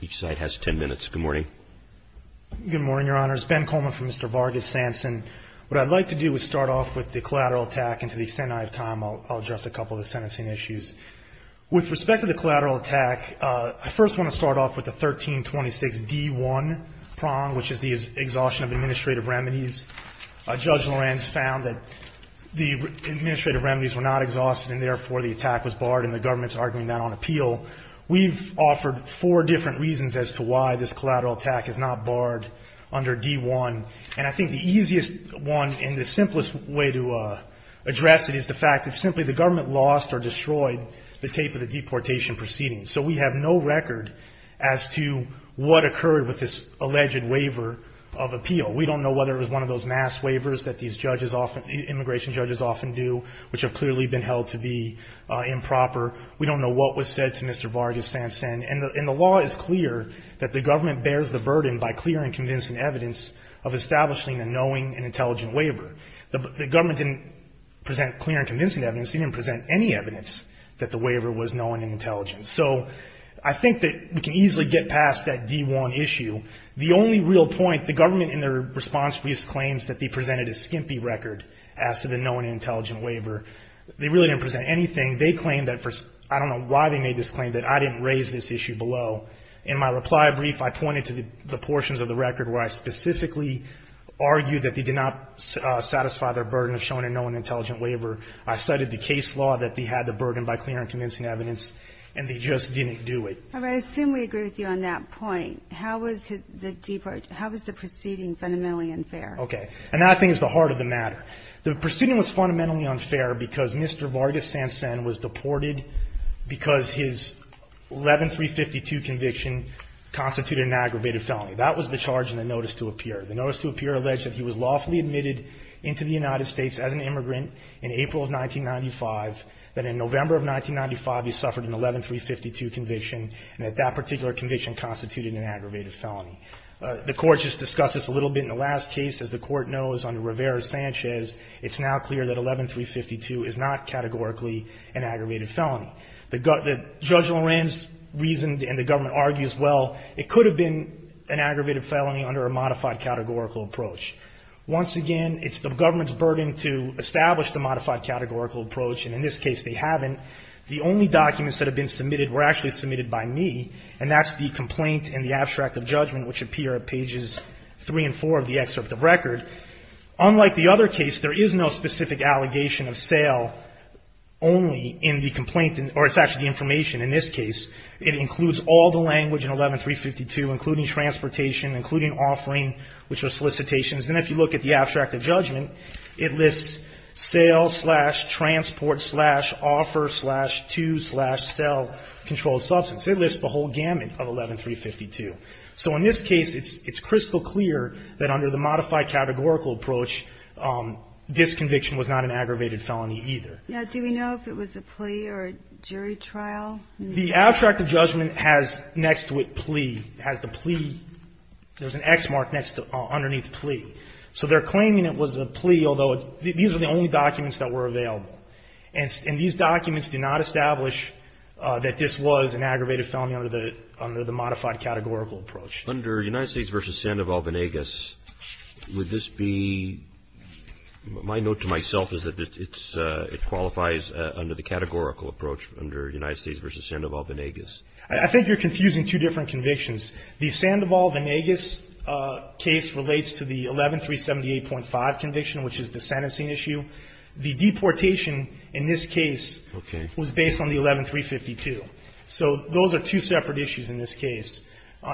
Good morning, your honors. Ben Coleman from Mr. Vargas-Sancen. What I'd like to do is start off with the collateral attack, and to the extent I have time, I'll address a couple of the sentencing issues. With respect to the collateral attack, I first want to start off with the 1326D1 prong, which is the exhaustion of administrative remedies. Judge Lorenz found that the administrative remedies were not exhausted, and therefore the attack was barred, and the government's arguing that on appeal. We've offered four different reasons as to why this collateral attack is not barred under D1. And I think the easiest one and the simplest way to address it is the fact that simply the government lost or destroyed the tape of the deportation proceedings. So we have no record as to what occurred with this alleged waiver of appeal. We don't know whether it was one of those mass waivers that these judges often, immigration judges often do, which have clearly been held to be improper. We don't know what was said to Mr. Vargas-Sancen. And the law is clear that the government bears the burden by clear and convincing evidence of establishing a knowing and intelligent waiver. The government didn't present clear and convincing evidence. They didn't present any evidence that the waiver was knowing and intelligent. So I think that we can easily get past that D1 issue. The only real point, the government in their response briefs claims that they presented a skimpy record as to the knowing and intelligent waiver. They really didn't present anything. They claimed that for, I don't know why they made this claim, that I didn't raise this issue below. In my reply brief, I pointed to the portions of the record where I specifically argued that they did not satisfy their burden of showing a knowing and intelligent waiver. I cited the case law that they had the burden by clear and convincing evidence, and they just didn't do it. I assume we agree with you on that point. How was the proceeding fundamentally unfair? Okay. And that thing is the heart of the matter. The proceeding was fundamentally unfair because Mr. Vargas-Sancen was deported because his 11352 conviction constituted an aggravated felony. That was the charge in the notice to appear. The notice to appear alleged that he was lawfully admitted into the United States as an immigrant in April of 1995, that in November of 1995 he suffered an 11352 conviction, and that that particular conviction constituted an aggravated felony. The Court just discussed this a little bit in the last case. As the Court knows, under Rivera-Sanchez, it's now clear that 11352 is not categorically an aggravated felony. Judge Lorenz reasoned and the government argues, well, it could have been an aggravated felony under a modified categorical approach. Once again, it's the government's burden to establish the modified categorical approach, and in this case they haven't. The only documents that have been submitted were actually submitted by me, and that's the complaint and the abstract of judgment, which appear at pages 3 and 4 of the excerpt of record. Unlike the other case, there is no specific allegation of sale only in the complaint, or it's actually information. In this case, it includes all the language in 11352, including transportation, including offering, which are solicitations. And if you look at the abstract of judgment, it lists sale, slash, transport, slash, offer, slash, to, slash, sell, controlled substance. It lists the whole gamut of 11352. So in this case, it's crystal clear that under the modified categorical approach, this conviction was not an aggravated felony either. Now, do we know if it was a plea or a jury trial? The abstract of judgment has next to it plea, has the plea, there's an X mark underneath plea. So they're claiming it was a plea, although these are the only documents that were available. And these documents do not establish that this was an aggravated felony under the modified categorical approach. Under United States v. Sandoval-Vanegas, would this be my note to myself is that it qualifies under the categorical approach under United States v. Sandoval-Vanegas? I think you're confusing two different convictions. The Sandoval-Vanegas case relates to the 11378.5 conviction, which is the sentencing issue. The deportation in this case was based on the 11352. So those are two separate issues in this case.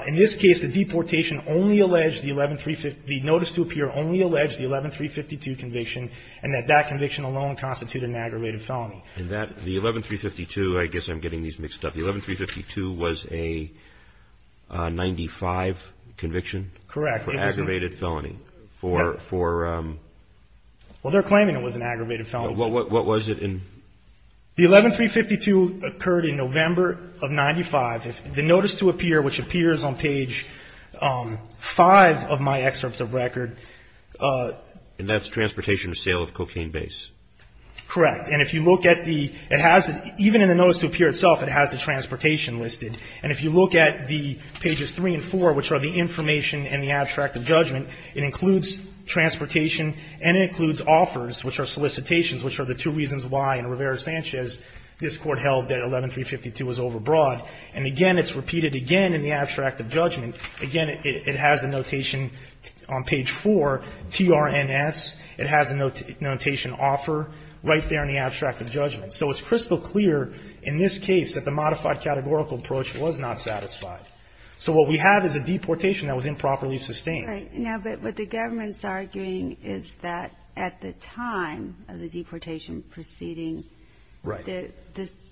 In this case, the deportation only alleged the 11352, the notice to appear only alleged the 11352 conviction, and that that conviction alone constituted an aggravated felony. And that, the 11352, I guess I'm getting these mixed up. The 11352 was a 95 conviction? Correct. For aggravated felony. Well, they're claiming it was an aggravated felony. What was it in? The 11352 occurred in November of 95. The notice to appear, which appears on page 5 of my excerpts of record. And that's transportation or sale of cocaine base. Correct. And if you look at the, it has, even in the notice to appear itself, it has the transportation listed. And if you look at the pages 3 and 4, which are the information and the abstract of judgment, it includes transportation and it includes offers, which are solicitations, which are the two reasons why in Rivera-Sanchez this Court held that 11352 was overbroad. And again, it's repeated again in the abstract of judgment. Again, it has a notation on page 4, TRNS. It has a notation offer right there in the abstract of judgment. So it's crystal clear in this case that the modified categorical approach was not satisfied. Right. Now, but what the government's arguing is that at the time of the deportation proceeding, the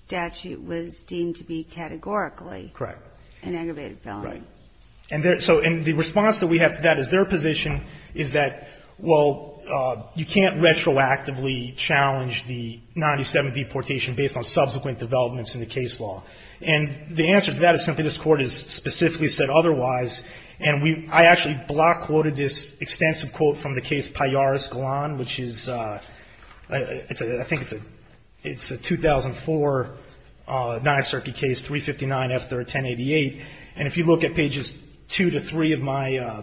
statute was deemed to be categorically an aggravated felony. Right. And so the response that we have to that is their position is that, well, you can't retroactively challenge the 97 deportation based on subsequent developments in the case law. And the answer to that is simply this Court has specifically said otherwise. And we – I actually block quoted this extensive quote from the case Pallares-Galan, which is – it's a – I think it's a 2004 Ninth Circuit case, 359 F-1088. And if you look at pages 2 to 3 of my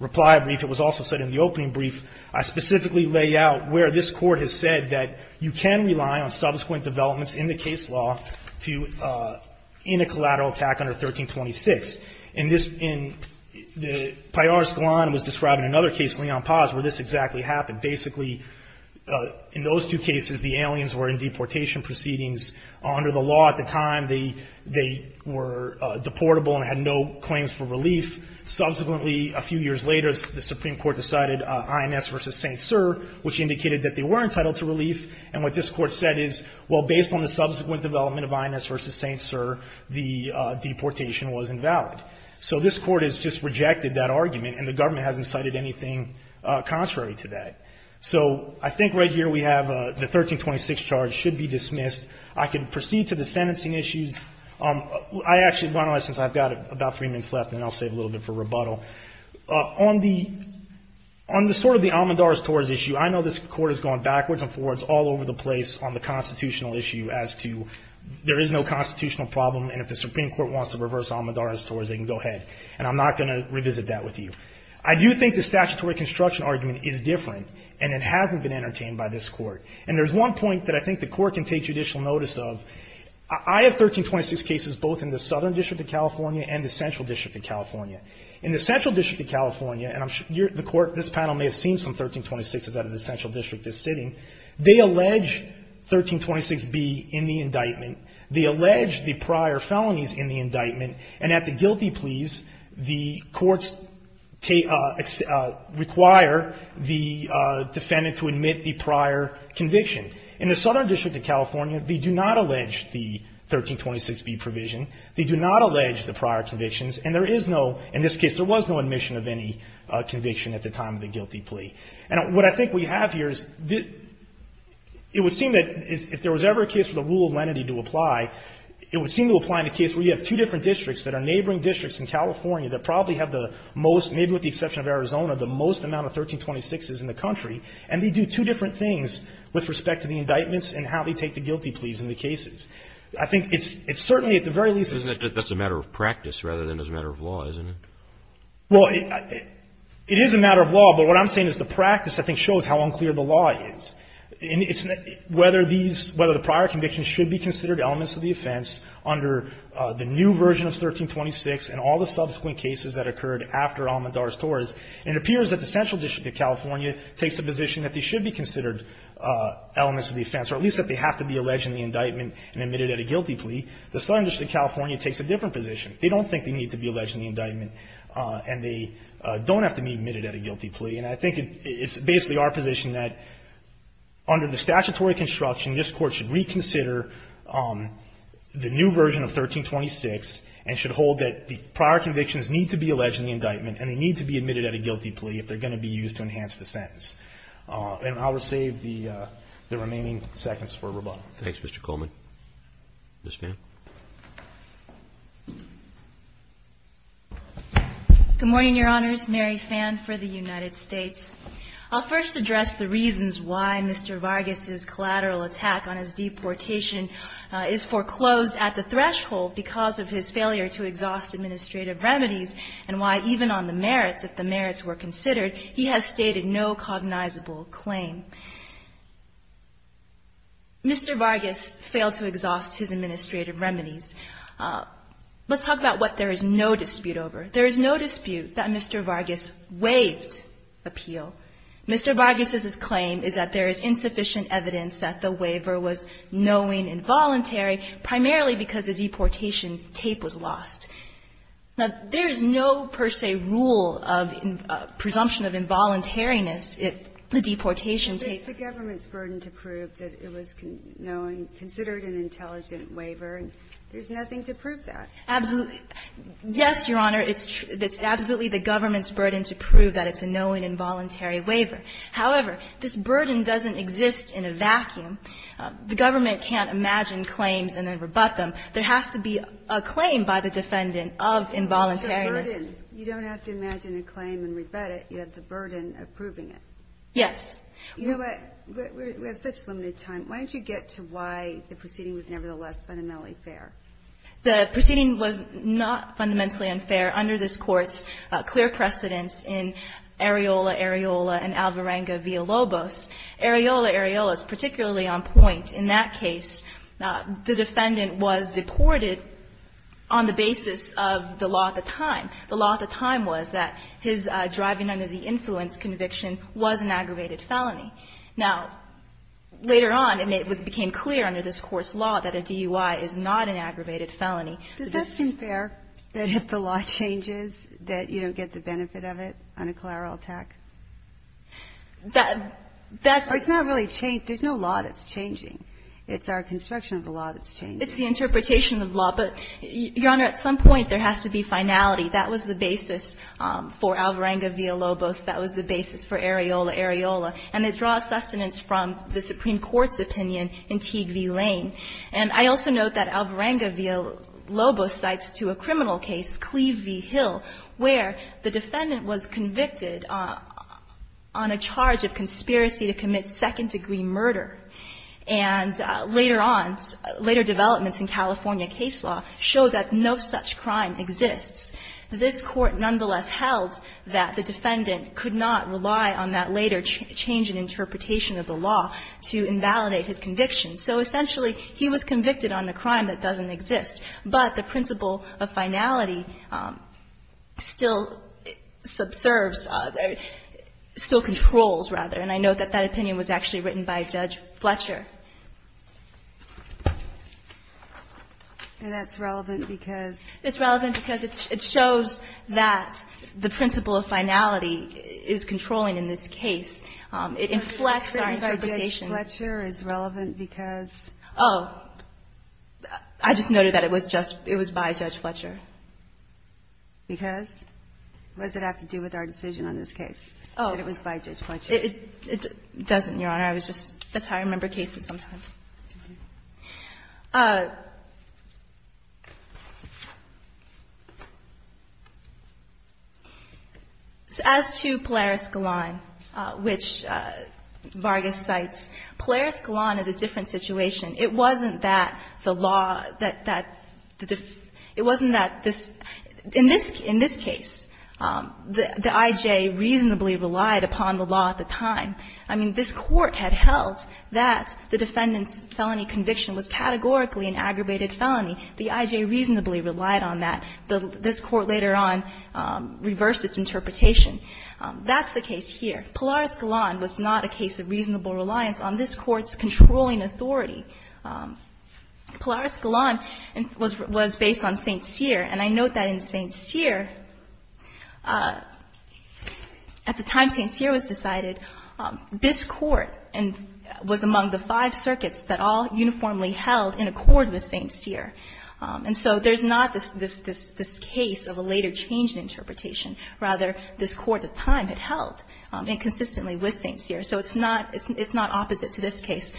reply brief, it was also said in the opening brief, I specifically lay out where this Court has said that you can rely on subsequent developments in the case law to – in a collateral attack under 1326. And this – and Pallares-Galan was describing another case, Leon Paz, where this exactly happened. Basically, in those two cases, the aliens were in deportation proceedings. Under the law at the time, they were deportable and had no claims for relief. Subsequently, a few years later, the Supreme Court decided INS v. St. Cyr, which indicated that they were entitled to relief. And what this Court said is, well, based on the subsequent development of INS v. St. Cyr, the deportation was invalid. So this Court has just rejected that argument, and the government hasn't cited anything contrary to that. So I think right here we have the 1326 charge should be dismissed. I can proceed to the sentencing issues. I actually want to, since I've got about three minutes left, and then I'll save a little bit for rebuttal. On the – on the sort of the almondars towards issue, I know this Court has gone backwards and forwards all over the place on the constitutional issue as to there is no constitutional problem, and if the Supreme Court wants to reverse almondars towards it, they can go ahead. And I'm not going to revisit that with you. I do think the statutory construction argument is different, and it hasn't been entertained by this Court. And there's one point that I think the Court can take judicial notice of. I have 1326 cases both in the Southern District of California and the Central District of California. In the Central District of California, and I'm sure the Court, this panel may have seen some 1326s out of the Central District this sitting, they allege 1326b in the indictment. They allege the prior felonies in the indictment, and at the guilty pleas, the courts take – require the defendant to admit the prior conviction. In the Southern District of California, they do not allege the 1326b provision. They do not allege the prior convictions, and there is no – in this case, there was no admission of any conviction at the time of the guilty plea. And what I think we have here is the – it would seem that if there was ever a case for the rule of lenity to apply, it would seem to apply in a case where you have two different districts that are neighboring districts in California that probably have the most – maybe with the exception of Arizona, the most amount of 1326s in the country, and they do two different things with respect to the indictments and how they take the guilty pleas in the cases. I think it's certainly at the very least – Isn't it that that's a matter of practice rather than as a matter of law, isn't it? Well, it is a matter of law, but what I'm saying is the practice I think shows how unclear the law is. And it's whether these – whether the prior convictions should be considered elements of the offense under the new version of 1326 and all the subsequent cases that occurred after Almandar's Taurus. And it appears that the Central District of California takes a position that these should be considered elements of the offense, or at least that they have to be alleged in the indictment and admitted at a guilty plea. The Southern District of California takes a different position. They don't think they need to be alleged in the indictment, and they don't have to be admitted at a guilty plea. And I think it's basically our position that under the statutory construction, this Court should reconsider the new version of 1326 and should hold that the prior convictions need to be alleged in the indictment, and they need to be admitted at a guilty plea if they're going to be used to enhance the sentence. And I'll save the remaining seconds for rebuttal. Thanks, Mr. Coleman. Ms. Phan. Good morning, Your Honors. Mary Phan for the United States. I'll first address the reasons why Mr. Vargas's collateral attack on his deportation is foreclosed at the threshold because of his failure to exhaust administrative remedies and why even on the merits, if the merits were considered, he has stated no cognizable claim. Mr. Vargas failed to exhaust his administrative remedies. Let's talk about what there is no dispute over. There is no dispute that Mr. Vargas waived appeal. Mr. Vargas's claim is that there is insufficient evidence that the waiver was knowing involuntary, primarily because the deportation tape was lost. Now, there is no per se rule of presumption of involuntariness if the deportation tape was lost. It's the government's burden to prove that it was knowing, considered an intelligent waiver, and there's nothing to prove that. Absolutely. Yes, Your Honor, it's absolutely the government's burden to prove that it's a knowing involuntary waiver. However, this burden doesn't exist in a vacuum. The government can't imagine claims and then rebut them. There has to be a claim by the defendant of involuntariness. You don't have to imagine a claim and rebut it. You have the burden of proving it. Yes. You know what? We have such limited time. Why don't you get to why the proceeding was nevertheless fundamentally fair? The proceeding was not fundamentally unfair under this Court's clear precedence in Areola, Areola, and Alvarenga v. Lobos. Areola, Areola is particularly on point. In that case, the defendant was deported on the basis of the law at the time. Now, later on, and it became clear under this Court's law that a DUI is not an aggravated felony. Does that seem fair, that if the law changes, that you don't get the benefit of it on a collateral attack? That's not really changed. There's no law that's changing. It's our construction of the law that's changing. It's the interpretation of law. But, Your Honor, at some point, there has to be finality. That was the basis. for Alvarenga v. Lobos. That was the basis for Areola, Areola. And it draws sustenance from the Supreme Court's opinion in Teague v. Lane. And I also note that Alvarenga v. Lobos cites to a criminal case, Cleve v. Hill, where the defendant was convicted on a charge of conspiracy to commit second-degree murder. And later on, later developments in California case law show that no such crime exists. This Court nonetheless held that the defendant could not rely on that later change in interpretation of the law to invalidate his conviction. So essentially, he was convicted on a crime that doesn't exist. But the principle of finality still subserves, still controls, rather. And I note that that opinion was actually written by Judge Fletcher. And that's relevant because? It's relevant because it shows that the principle of finality is controlling in this case. It inflects our interpretation. So Judge Fletcher is relevant because? Oh. I just noted that it was just by Judge Fletcher. Because? What does it have to do with our decision on this case, that it was by Judge Fletcher? It doesn't, Your Honor. I was just, that's how I remember cases sometimes. As to Polaris-Galan, which Vargas cites, Polaris-Galan is a different situation. It wasn't that the law, that the, it wasn't that this, in this case, the I.J. reasonably relied upon the law at the time. I mean, this Court had held that the defendant's felony conviction was categorically an aggravated felony. The I.J. reasonably relied on that. This Court later on reversed its interpretation. That's the case here. Polaris-Galan was not a case of reasonable reliance on this Court's controlling Polaris-Galan was based on St. Cyr. And I note that in St. Cyr, at the time St. Cyr was decided, this Court was among the five circuits that all uniformly held in accord with St. Cyr. And so there's not this case of a later change in interpretation. Rather, this Court at the time had held inconsistently with St. Cyr. So it's not opposite to this case.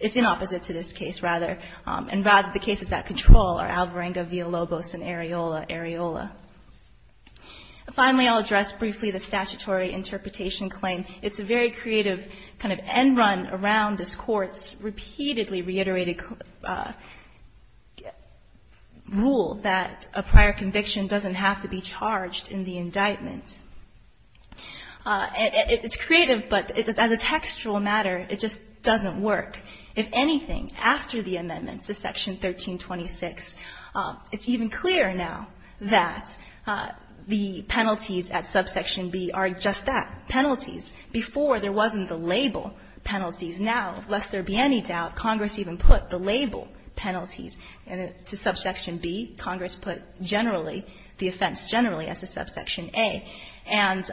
It's inopposite to this case, rather. And rather, the cases that control are Alvarenga v. Lobos and Areola v. Areola. Finally, I'll address briefly the statutory interpretation claim. It's a very creative kind of end run around this Court's repeatedly reiterated rule that a prior conviction doesn't have to be charged in the indictment. It's creative, but as a textual matter, it just doesn't work. If anything, after the amendments to Section 1326, it's even clearer now that the penalties at subsection B are just that, penalties. Before, there wasn't the label penalties. Now, lest there be any doubt, Congress even put the label penalties to subsection B. Congress put generally, the offense generally as a subsection A. And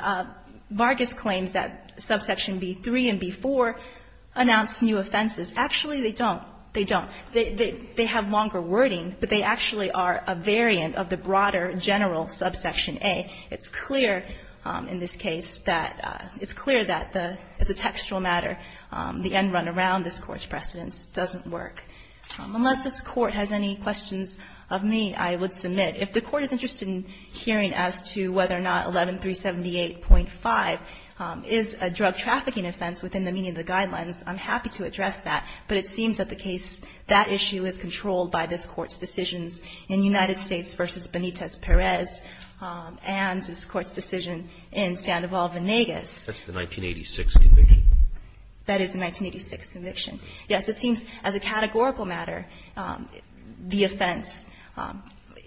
Vargas claims that subsection B-3 and B-4 announce new offenses. Actually, they don't. They don't. They have longer wording, but they actually are a variant of the broader general subsection A. It's clear in this case that the textual matter, the end run around this Court's precedence doesn't work. Unless this Court has any questions of me, I would submit. If the Court is interested in hearing as to whether or not 11378.5 is a drug trafficking offense within the meaning of the Guidelines, I'm happy to address that. But it seems that the case, that issue is controlled by this Court's decisions in United States v. Benitez-Perez and this Court's decision in Sandoval-Venegas. Roberts. That's the 1986 conviction. That is the 1986 conviction. Yes, it seems as a categorical matter, the offense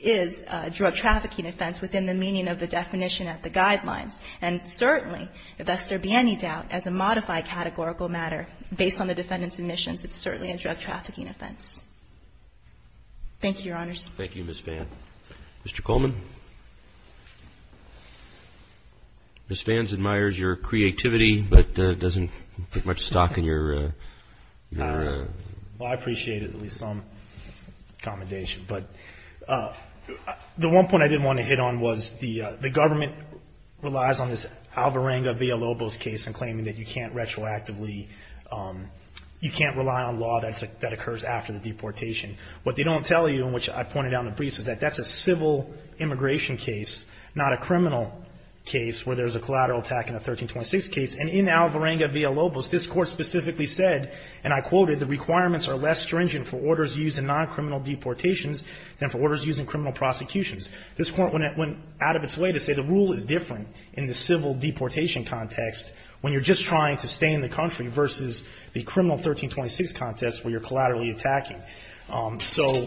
is a drug trafficking offense within the meaning of the definition at the Guidelines. And certainly, if thus there be any doubt, as a modified categorical matter based on the defendant's admissions, it's certainly a drug trafficking offense. Thank you, Your Honors. Thank you, Ms. Phan. Mr. Coleman. Ms. Phan admires your creativity, but doesn't put much stock in your, in your Well, I appreciate it, at least some commendation. But the one point I did want to hit on was the government relies on this Alvarenga v. El Lobos case and claiming that you can't retroactively, you can't rely on law that occurs after the deportation. What they don't tell you, and which I pointed out in the briefs, is that that's a civil immigration case, not a criminal case where there's a collateral attack in a 1326 case. And in Alvarenga v. El Lobos, this Court specifically said, and I quoted, the requirements are less stringent for orders used in non-criminal deportations than for orders used in criminal prosecutions. This Court went out of its way to say the rule is different in the civil deportation context when you're just trying to stay in the country versus the criminal 1326 context where you're collaterally attacking. So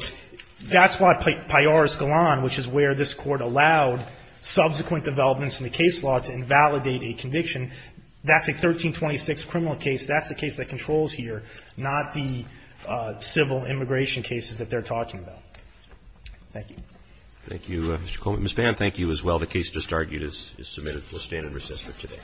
that's why Pallares Galan, which is where this Court allowed subsequent developments in the case law to invalidate a conviction, that's a 1326 criminal case. That's the case that controls here, not the civil immigration cases that they're talking about. Thank you. Roberts. Thank you, Mr. Coleman. Ms. Vann, thank you as well. The case just argued is submitted. We'll stand in recess for today.